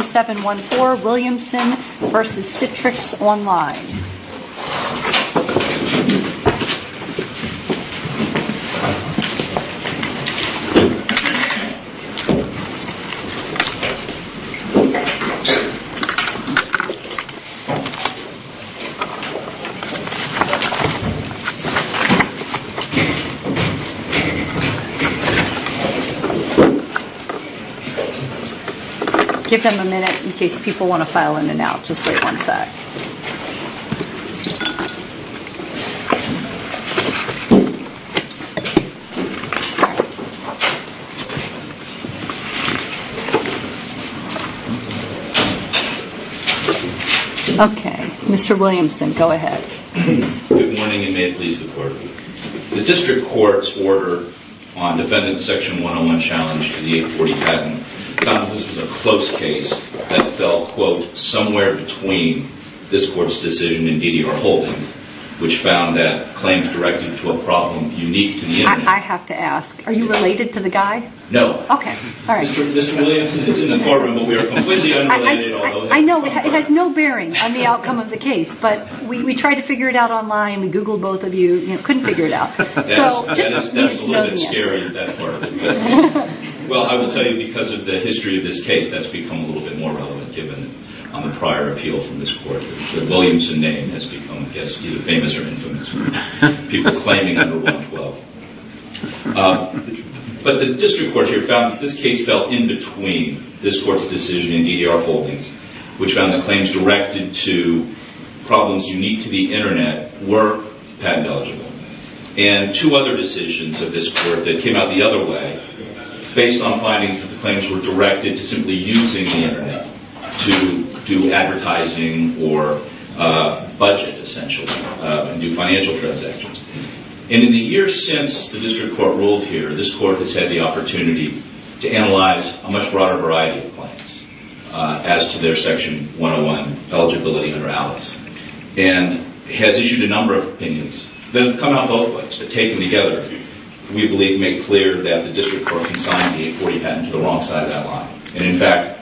714 Williamson v. Citrix Online Give them a minute in case people want to file in and out, just wait one sec. Okay, Mr. Williamson, go ahead. Good morning and may it please the Court. The District Court's order on defendant section 101 challenge to the 840 patent found this was a close case that fell, quote, somewhere between this Court's decision and DDR Holdings, which found that claims directed to a problem unique to the internet. I have to ask, are you related to the guy? No. Okay, all right. Mr. Williamson is in the courtroom, but we are completely unrelated. I know, it has no bearing on the outcome of the case, but we tried to figure it out online, we Googled both of you, couldn't figure it out. That's a little bit scary at that part of it. Well, I will tell you, because of the history of this case, that's become a little bit more relevant given on the prior appeal from this Court. The Williamson name has become, I guess, either famous or infamous with people claiming under 112. But the District Court here found that this case fell in between this Court's decision and DDR Holdings, which found that claims directed to problems unique to the internet were patent eligible. And two other decisions of this Court that came out the other way, based on findings that the claims were directed to simply using the internet to do advertising or budget, essentially, and do financial transactions. And in the years since the District Court ruled here, this Court has had the opportunity to analyze a much broader variety of claims as to their Section 101 eligibility and routes, and has issued a number of opinions that have come out both ways. But taken together, we believe it made clear that the District Court consigned the 840 patent to the wrong side of that line. And in fact,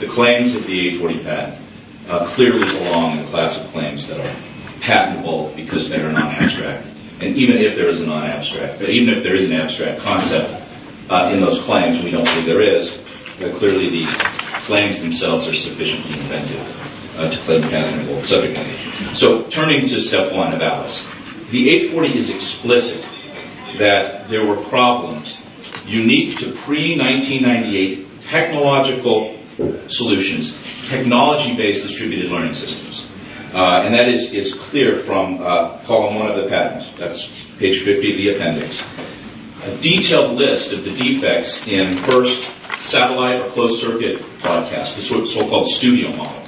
the claims of the 840 patent clearly belong in the class of claims that are patentable because they are non-abstract. And even if there is a non-abstract, even if there is an abstract concept in those claims, and we don't believe there is, clearly the claims themselves are sufficiently inventive to claim patentable subject matter. So turning to Step 1 of Alice, the 840 is explicit that there were problems unique to pre-1998 technological solutions, technology-based distributed learning systems. And that is clear from Column 1 of the patent. That's page 50 of the appendix. A detailed list of the defects in, first, satellite or closed-circuit broadcast, the so-called studio model,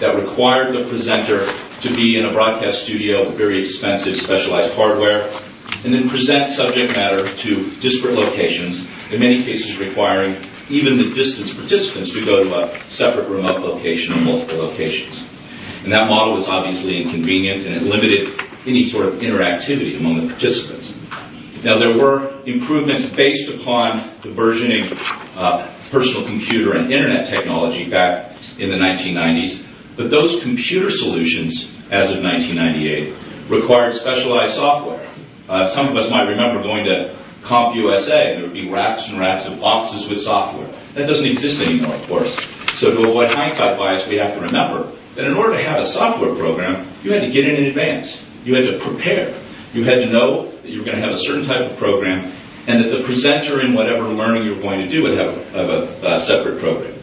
that required the presenter to be in a broadcast studio with very expensive specialized hardware, and then present subject matter to disparate locations, in many cases requiring even the distance participants to go to a separate remote location or multiple locations. And that model was obviously inconvenient and it limited any sort of interactivity among the participants. Now, there were improvements based upon the burgeoning personal computer and internet technology back in the 1990s, but those computer solutions, as of 1998, required specialized software. Some of us might remember going to CompUSA, and there would be racks and racks of boxes with software. That doesn't exist anymore, of course. So to avoid hindsight bias, we have to remember that in order to have a software program, you had to get in in advance. You had to prepare. You had to know that you were going to have a certain type of program and that the presenter in whatever learning you were going to do would have a separate program.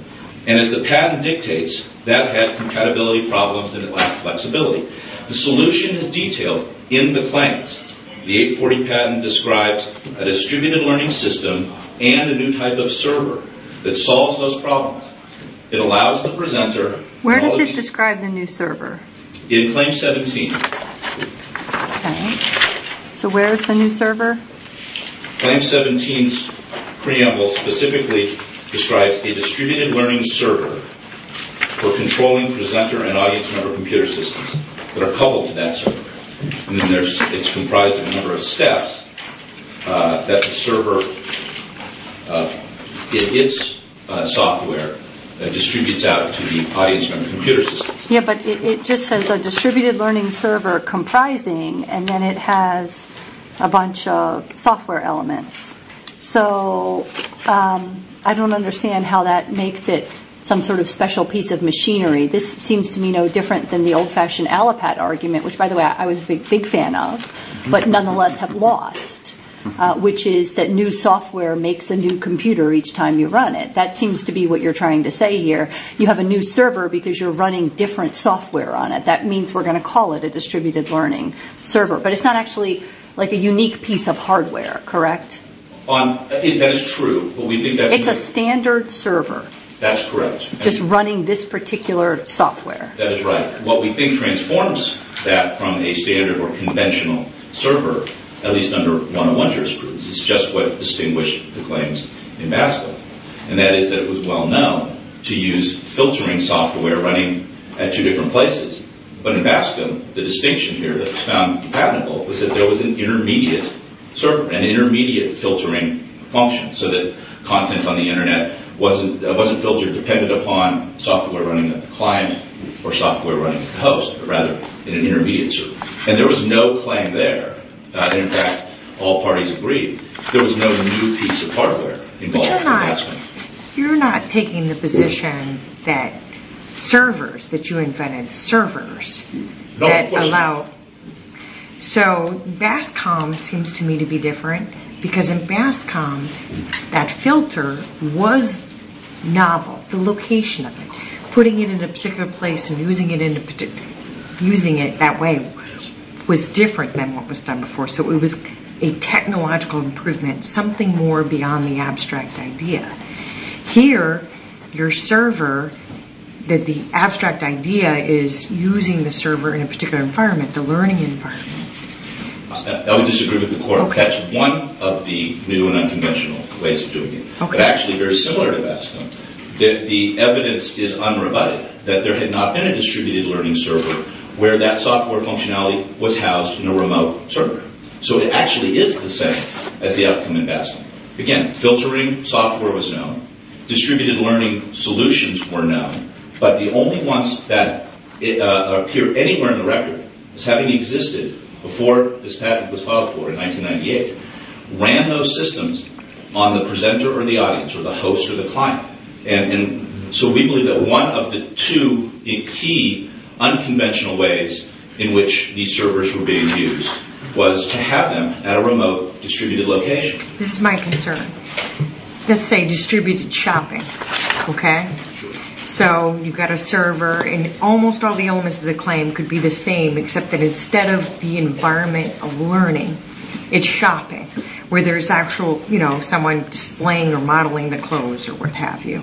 And as the patent dictates, that has compatibility problems and it lacks flexibility. The solution is detailed in the claims. The 840 patent describes a distributed learning system and a new type of server that solves those problems. It allows the presenter... Where does it describe the new server? In Claim 17. Okay. So where is the new server? Claim 17's preamble specifically describes a distributed learning server for controlling presenter and audience member computer systems that are coupled to that server. It's comprised of a number of steps that the server, its software, distributes out to the audience member computer systems. Yeah, but it just says a distributed learning server comprising and then it has a bunch of software elements. So I don't understand how that makes it some sort of special piece of machinery. This seems to me no different than the old-fashioned Allopat argument, which, by the way, I was a big fan of, but nonetheless have lost, which is that new software makes a new computer each time you run it. That seems to be what you're trying to say here. You have a new server because you're running different software on it. That means we're going to call it a distributed learning server. But it's not actually like a unique piece of hardware, correct? That is true, but we think that's... It's a standard server. That's correct. Just running this particular software. That is right. What we think transforms that from a standard or conventional server, at least under 101 jurisprudence, is just what distinguished the claims in Maskell, and that is that it was well-known to use filtering software running at two different places. But in Maskell, the distinction here that was found impenetrable was that there was an intermediate server, an intermediate filtering function, so that content on the Internet wasn't filtered, depended upon software running at the client or software running at the host, but rather in an intermediate server. And there was no claim there. In fact, all parties agreed. There was no new piece of hardware involved. But you're not taking the position that servers, that you invented servers, that allow... So Bascom seems to me to be different, because in Bascom, that filter was novel, the location of it. Putting it in a particular place and using it that way was different than what was done before. So it was a technological improvement, something more beyond the abstract idea. Here, your server, that the abstract idea is using the server in a particular environment, the learning environment. I would disagree with the court. That's one of the new and unconventional ways of doing it, but actually very similar to Bascom, that the evidence is unrebutted, that there had not been a distributed learning server where that software functionality was housed in a remote server. So it actually is the same as the outcome in Bascom. Again, filtering software was known. Distributed learning solutions were known. But the only ones that appear anywhere in the record as having existed before this patent was filed for in 1998 ran those systems on the presenter or the audience or the host or the client. So we believe that one of the two key unconventional ways in which these servers were being used was to have them at a remote distributed location. This is my concern. Let's say distributed shopping, okay? So you've got a server, and almost all the elements of the claim could be the same except that instead of the environment of learning, it's shopping, where there's actually someone displaying or modeling the clothes or what have you,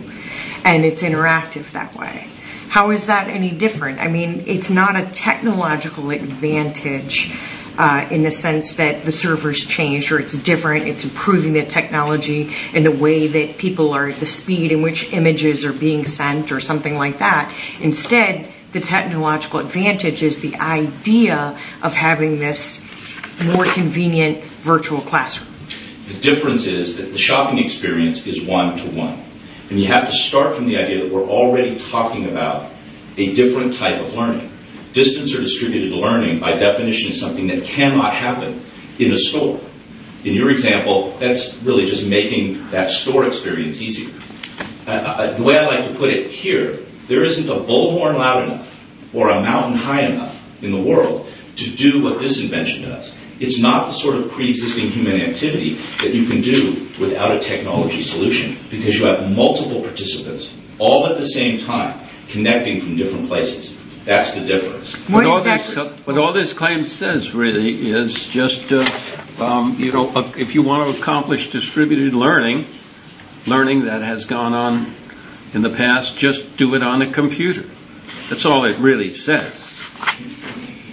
and it's interactive that way. How is that any different? I mean, it's not a technological advantage in the sense that the servers change or it's different, it's improving the technology in the way that people are at the speed in which images are being sent or something like that. Instead, the technological advantage is the idea of having this more convenient virtual classroom. The difference is that the shopping experience is one-to-one. And you have to start from the idea that we're already talking about a different type of learning. Distance or distributed learning, by definition, is something that cannot happen in a store. In your example, that's really just making that store experience easier. The way I like to put it here, there isn't a bullhorn loud enough or a mountain high enough in the world to do what this invention does. It's not the sort of pre-existing human activity that you can do without a technology solution because you have multiple participants, all at the same time, connecting from different places. That's the difference. But all this claim says, really, is just if you want to accomplish distributed learning, learning that has gone on in the past, just do it on a computer. That's all it really says.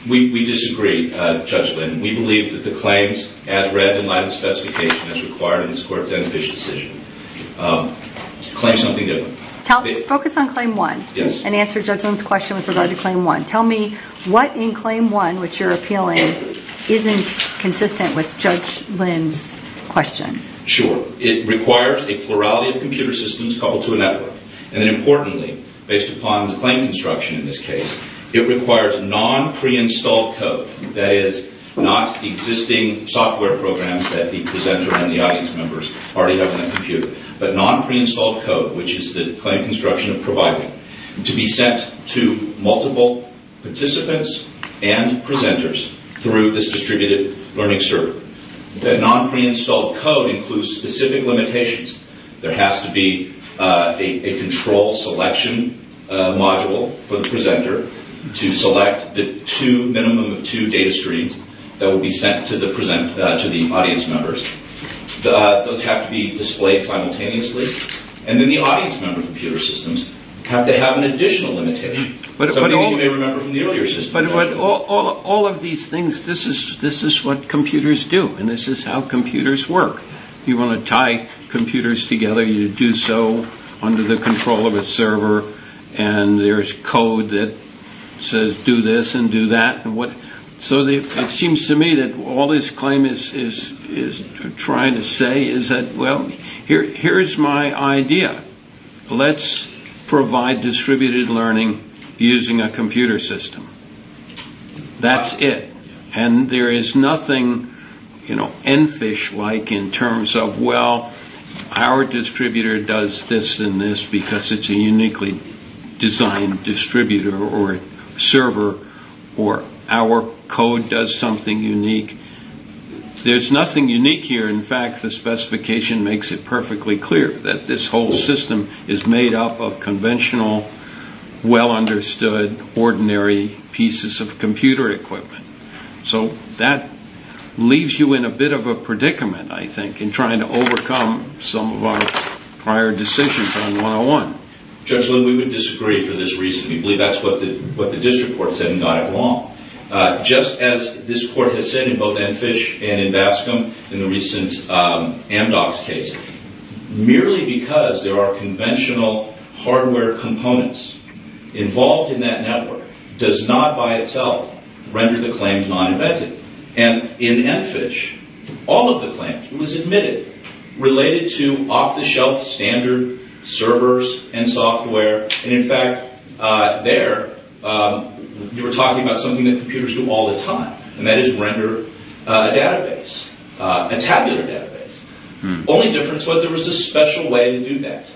We disagree, Judge Lynn. We believe that the claims as read in light of the specification as required in this Court's end-of-issue decision claim something different. Focus on Claim 1 and answer Judge Lynn's question with regard to Claim 1. Tell me what in Claim 1, which you're appealing, isn't consistent with Judge Lynn's question. Sure. It requires a plurality of computer systems coupled to a network. And then, importantly, based upon the claim construction in this case, it requires non-pre-installed code. That is, not existing software programs that the presenter and the audience members already have on the computer, but non-pre-installed code, which is the claim construction of providing to be sent to multiple participants and presenters through this distributed learning server. That non-pre-installed code includes specific limitations. There has to be a control selection module for the presenter to select the minimum of two data streams that will be sent to the audience members. Those have to be displayed simultaneously. And then the audience member computer systems, they have an additional limitation. Something you may remember from the earlier system. But all of these things, this is what computers do, and this is how computers work. You want to tie computers together, you do so under the control of a server, and there's code that says do this and do that. So it seems to me that all this claim is trying to say is that, well, here's my idea. Let's provide distributed learning using a computer system. That's it. And there is nothing, you know, EnFish-like in terms of, well, our distributor does this and this because it's a uniquely designed distributor or server, or our code does something unique. There's nothing unique here. In fact, the specification makes it perfectly clear that this whole system is made up of conventional, well-understood, ordinary pieces of computer equipment. So that leaves you in a bit of a predicament, I think, in trying to overcome some of our prior decisions on 101. Judge Lynn, we would disagree for this reason. We believe that's what the district court said and got it wrong. Just as this court has said in both EnFish and in Bascom in the recent Amdocs case, merely because there are conventional hardware components involved in that network does not by itself render the claims non-invented. And in EnFish, all of the claims was admitted related to off-the-shelf standard servers and software. And, in fact, there you were talking about something that computers do all the time, and that is render a database, a tabular database. The only difference was there was a special way to do that.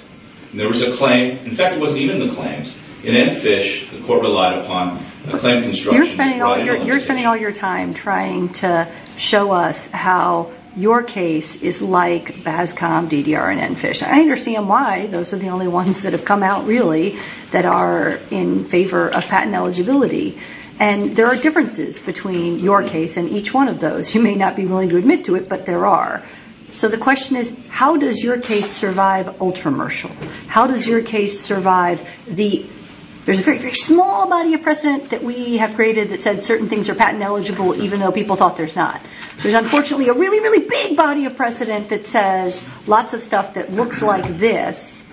There was a claim. In fact, it wasn't even the claims. In EnFish, the court relied upon a claim construction. You're spending all your time trying to show us how your case is like Bascom, DDR, and EnFish. I understand why those are the only ones that have come out, really, that are in favor of patent eligibility. And there are differences between your case and each one of those. You may not be willing to admit to it, but there are. So the question is, how does your case survive Ultramershal? How does your case survive the... There's a very, very small body of precedent that we have created that said certain things are patent eligible, even though people thought there's not. There's, unfortunately, a really, really big body of precedent that says lots of stuff that looks like this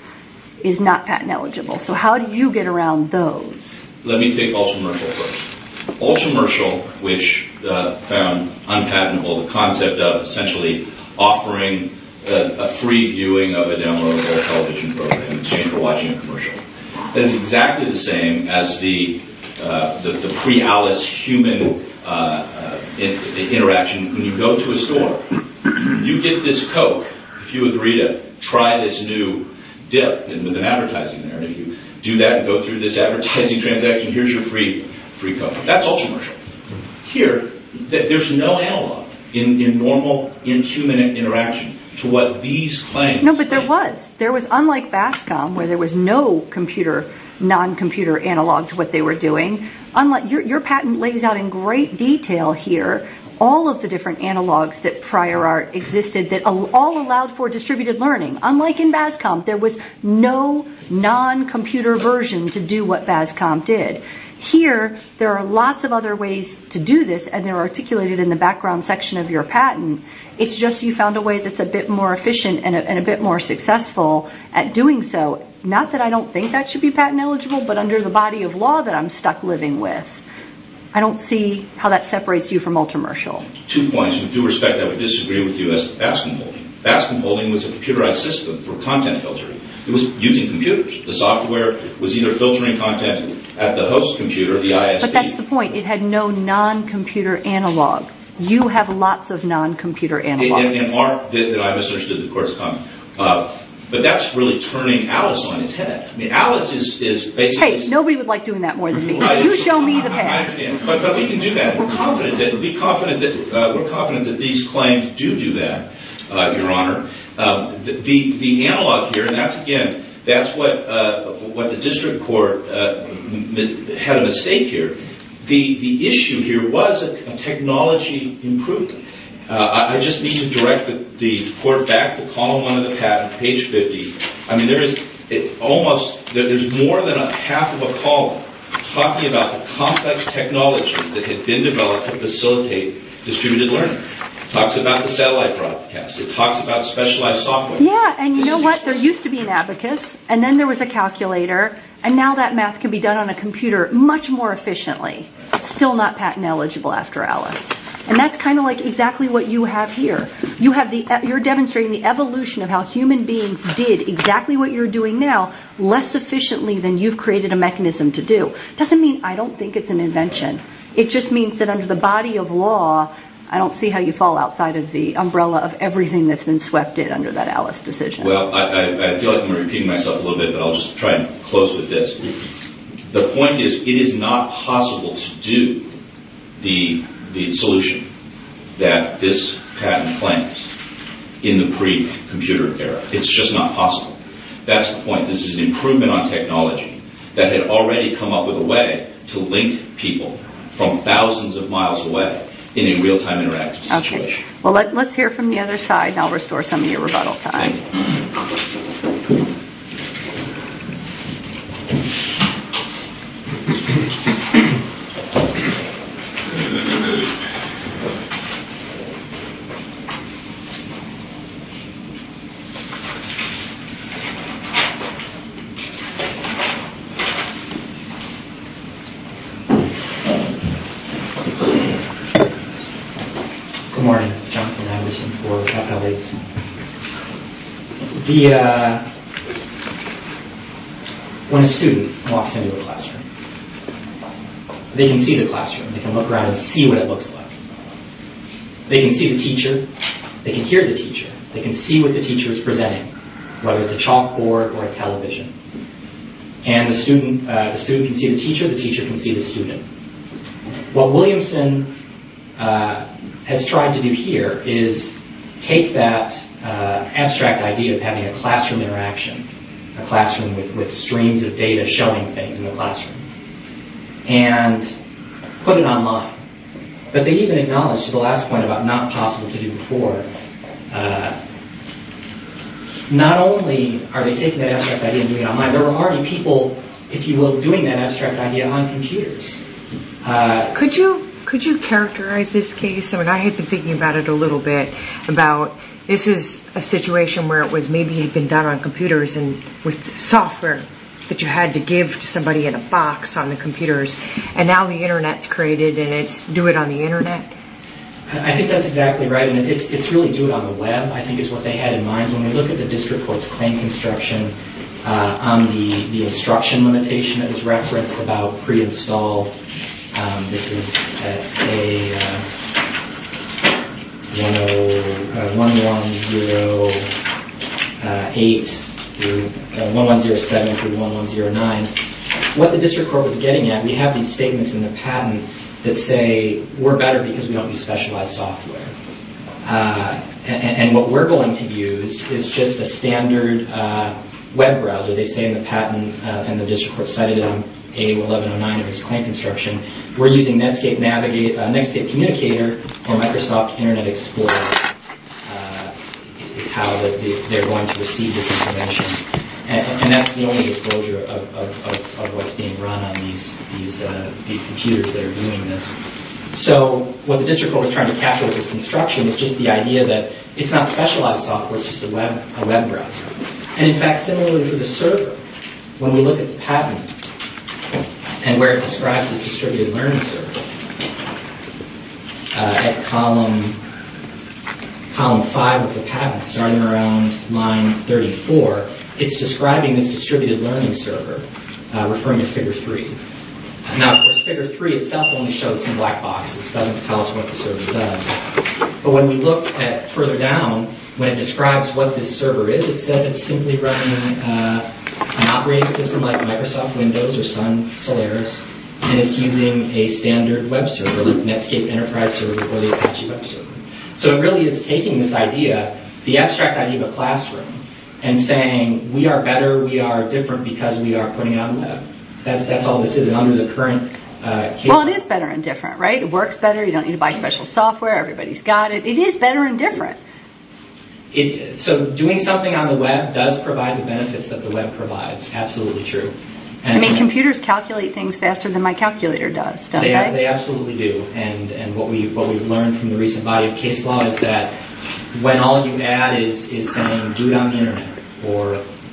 is not patent eligible. So how do you get around those? Let me take Ultramershal first. Ultramershal, which found unpatentable the concept of, essentially, offering a free viewing of a downloadable television program in exchange for watching a commercial. That is exactly the same as the pre-ALICE human interaction. When you go to a store, you get this Coke. If you agree to try this new dip with an advertising there, and if you do that and go through this advertising transaction, here's your free Coke. That's Ultramershal. Here, there's no analog in normal inhuman interaction to what these claims... No, but there was. There was, unlike BASCOM, where there was no computer, non-computer analog to what they were doing, your patent lays out in great detail here all of the different analogs that prior art existed that all allowed for distributed learning. Unlike in BASCOM, there was no non-computer version to do what BASCOM did. Here, there are lots of other ways to do this, and they're articulated in the background section of your patent. It's just you found a way that's a bit more efficient and a bit more successful at doing so. Not that I don't think that should be patent eligible, but under the body of law that I'm stuck living with, I don't see how that separates you from Ultramershal. Two points. With due respect, I would disagree with you as to BASCOM holding. It was a computerized system for content filtering. It was using computers. The software was either filtering content at the host computer, the ISP... But that's the point. It had no non-computer analog. You have lots of non-computer analogs. In art that I'm associated with, of course, but that's really turning Alice on its head. I mean, Alice is basically... Hey, nobody would like doing that more than me. You show me the patent. I understand, but we can do that. We're confident that these claims do do that, Your Honor. The analog here, and that's, again, that's what the district court had at stake here. The issue here was a technology improvement. I just need to direct the court back to column one of the patent, page 50. I mean, there is almost... There's more than half of a column talking about the complex technologies that had been developed to facilitate distributed learning. It talks about the satellite broadcast. It talks about specialized software. Yeah, and you know what? There used to be an abacus, and then there was a calculator, and now that math can be done on a computer much more efficiently. Still not patent eligible after Alice. And that's kind of like exactly what you have here. You're demonstrating the evolution of how human beings did exactly what you're doing now less efficiently than you've created a mechanism to do. It doesn't mean I don't think it's an invention. It just means that under the body of law, I don't see how you fall outside of the umbrella of everything that's been swept in under that Alice decision. Well, I feel like I'm repeating myself a little bit, but I'll just try and close with this. The point is it is not possible to do the solution that this patent claims in the pre-computer era. It's just not possible. That's the point. This is an improvement on technology that had already come up with a way to link people from thousands of miles away in a real-time interactive situation. Well, let's hear from the other side, and I'll restore some of your rebuttal time. Good morning. Jonathan Anderson for Chalk Outlays. When a student walks into a classroom, they can see the classroom. They can look around and see what it looks like. They can see the teacher. They can hear the teacher. They can see what the teacher is presenting, And the student can see the teacher. The teacher can see the student. What Williamson has tried to do here is take that abstract idea of having a classroom interaction, a classroom with streams of data showing things in the classroom, and put it online. But they even acknowledge, to the last point, about not possible to do before. Not only are they taking that abstract idea and doing it online, there are already people, if you will, doing that abstract idea on computers. Could you characterize this case? I mean, I had been thinking about it a little bit, about this is a situation where it was maybe had been done on computers and with software that you had to give to somebody in a box on the computers, and now the Internet's created, and it's do it on the Internet? I think that's exactly right, and it's really do it on the web, I think is what they had in mind. When we look at the district court's claim construction on the instruction limitation that was referenced about pre-install, this is at 1107 through 1109, what the district court was getting at, we have these statements in the patent that say we're better because we don't use specialized software. And what we're going to use is just a standard web browser. They say in the patent, and the district court cited it on A1109 in its claim construction, we're using Netscape Communicator or Microsoft Internet Explorer is how they're going to receive this information. And that's the only disclosure of what's being run on these computers that are doing this. So what the district court was trying to capture with this construction was just the idea that it's not specialized software, it's just a web browser. And in fact, similarly for the server, when we look at the patent and where it describes this distributed learning server, at column five of the patent, starting around line 34, it's describing this distributed learning server, referring to figure three. Now, figure three itself only shows some black boxes. It doesn't tell us what the server does. But when we look further down, when it describes what this server is, it says it's simply running an operating system like Microsoft Windows or Sun Solaris, and it's using a standard web server, like Netscape Enterprise Server or the Apache Web Server. So it really is taking this idea, the abstract idea of a classroom, and saying we are better, we are different because we are putting it on the web. That's all this is under the current case. Well, it is better and different, right? It works better, you don't need to buy special software, everybody's got it. It is better and different. So doing something on the web does provide the benefits that the web provides. Absolutely true. I mean, computers calculate things faster than my calculator does, don't they? They absolutely do. And what we've learned from the recent body of case law or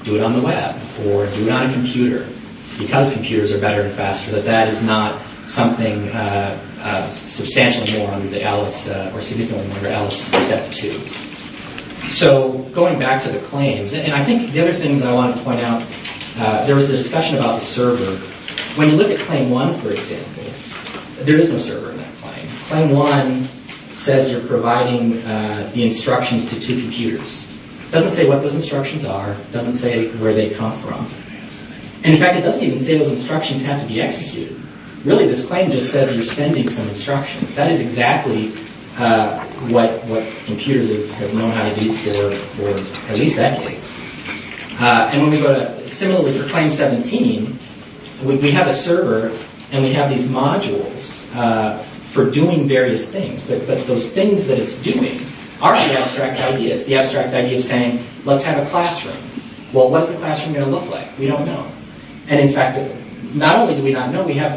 do it on the web or do it on a computer, because computers are better and faster, that that is not something substantially more under the ALICE or significantly more under ALICE Step 2. So going back to the claims, and I think the other thing that I want to point out, there was a discussion about the server. When you look at Claim 1, for example, there is no server in that claim. Claim 1 says you're providing the instructions to two computers. It doesn't say what those instructions are, it doesn't say where they come from. In fact, it doesn't even say those instructions have to be executed. Really, this claim just says you're sending some instructions. That is exactly what computers have known how to do for at least decades. Similarly, for Claim 17, we have a server and we have these modules for doing various things, but those things that it's doing are the abstract ideas. The abstract idea is saying, let's have a classroom. Well, what is the classroom going to look like? We don't know. And in fact, not only do we not know, we have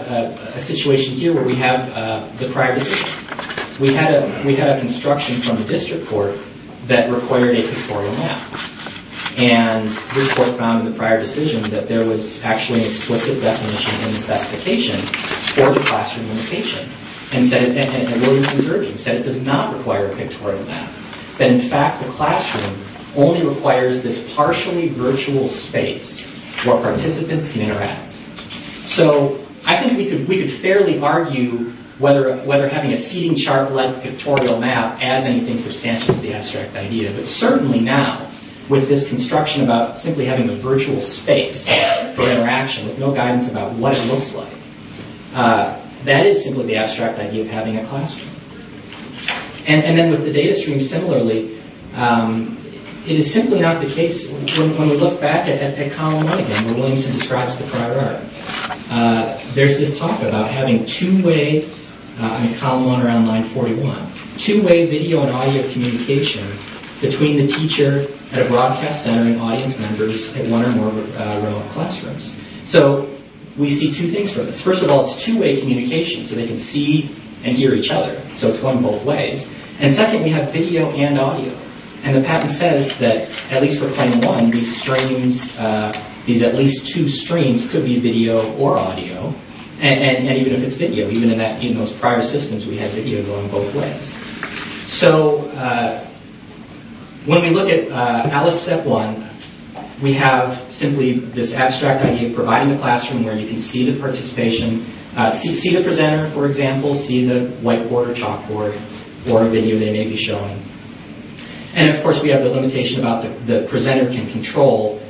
a situation here where we have the prior decision. We had a construction from the district court that required a pictorial map. And the court found in the prior decision that there was actually an explicit definition in the specification for the classroom location. And Williams & Surgin said it does not require a pictorial map. That in fact, the classroom only requires this partially virtual space where participants can interact. So I think we could fairly argue whether having a seating chart-like pictorial map adds anything substantial to the abstract idea. But certainly now, with this construction about simply having a virtual space for interaction with no guidance about what it looks like, that is simply the abstract idea of having a classroom. And then with the data stream similarly, it is simply not the case, when we look back at column 1 again, where Williamson describes the prior art, there's this talk about having two-way, in column 1 around line 41, two-way video and audio communication between the teacher at a broadcast center and audience members at one or more row of classrooms. So we see two things from this. First of all, it's two-way communication, so they can see and hear each other. So it's going both ways. And second, we have video and audio. And the patent says that, at least for claim 1, these at least two streams could be video or audio. And even if it's video, even in those prior systems, we had video going both ways. So when we look at Alice Step 1, we have simply this abstract idea of providing a classroom where you can see the participation, see the presenter, for example, see the whiteboard or chalkboard, or a video they may be showing. And of course, we have the limitation about the presenter can control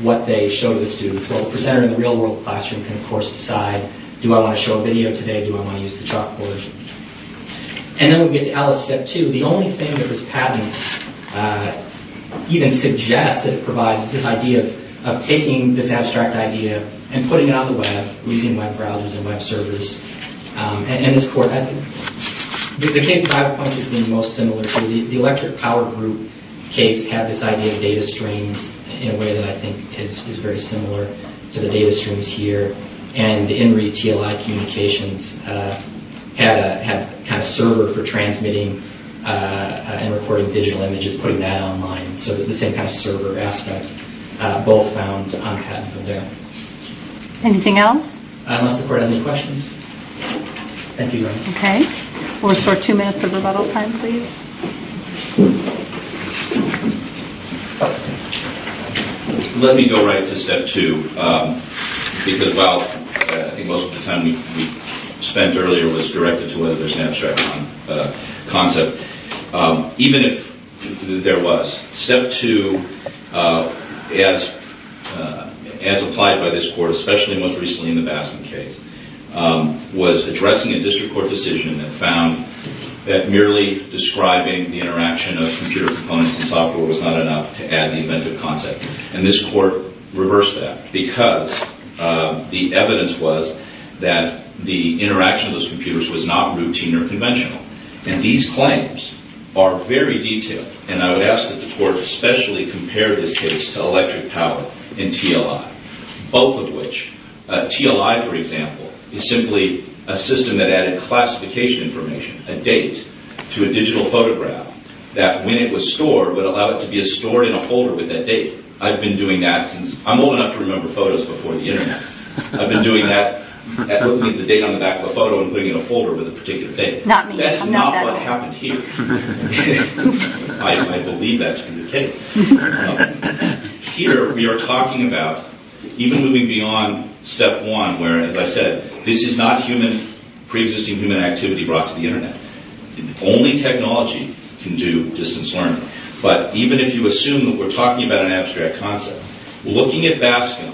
what they show to the students. Well, the presenter in the real-world classroom can, of course, decide, do I want to show a video today, do I want to use the chalkboard? And then we get to Alice Step 2. The only thing that this patent even suggests that it provides is this idea of taking this abstract idea and putting it on the web, using web browsers and web servers. And the case that I would point to being most similar to the electric power group case had this idea of data streams in a way that I think is very similar to the data streams here. And the INRI TLI communications had a server for transmitting and recording digital images, putting that online. So the same kind of server aspect both found on patent from there. Anything else? Unless the court has any questions. Thank you, Your Honor. Okay. We'll restore two minutes of rebuttal time, please. Let me go right to Step 2. Because while I think most of the time we spent earlier was directed to whether there's an abstract concept, even if there was, Step 2, as applied by this court, especially most recently in the Baskin case, was addressing a district court decision that found that merely describing the interaction of computer components and software was not enough to add the inventive concept. And this court reversed that because the evidence was that the interaction of those computers was not routine or conventional. And these claims are very detailed. And I would ask that the court especially compare this case to electric power and TLI, both of which... TLI, for example, is simply a system that added classification information, a date, to a digital photograph that when it was stored would allow it to be stored in a folder with that date. I've been doing that since... I'm old enough to remember photos before the Internet. I've been doing that, looking at the date on the back of a photo and putting it in a folder with a particular date. That is not what happened here. I believe that to be the case. Here, we are talking about... even moving beyond step one, where, as I said, this is not pre-existing human activity brought to the Internet. Only technology can do distance learning. But even if you assume that we're talking about an abstract concept, looking at Baskin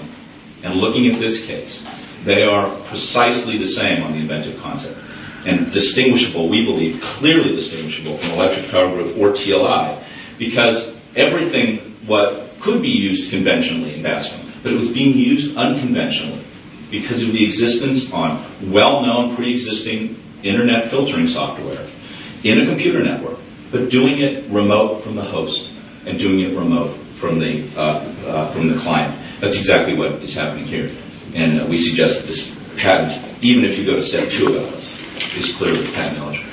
and looking at this case, they are precisely the same on the inventive concept and distinguishable, we believe, clearly distinguishable from electric power grid or TLI, because everything that could be used conventionally in Baskin, but it was being used unconventionally because of the existence on well-known pre-existing Internet filtering software in a computer network, but doing it remote from the host and doing it remote from the client. That's exactly what is happening here. And we suggest that this pattern, even if you go to step two about this, is clearly technological.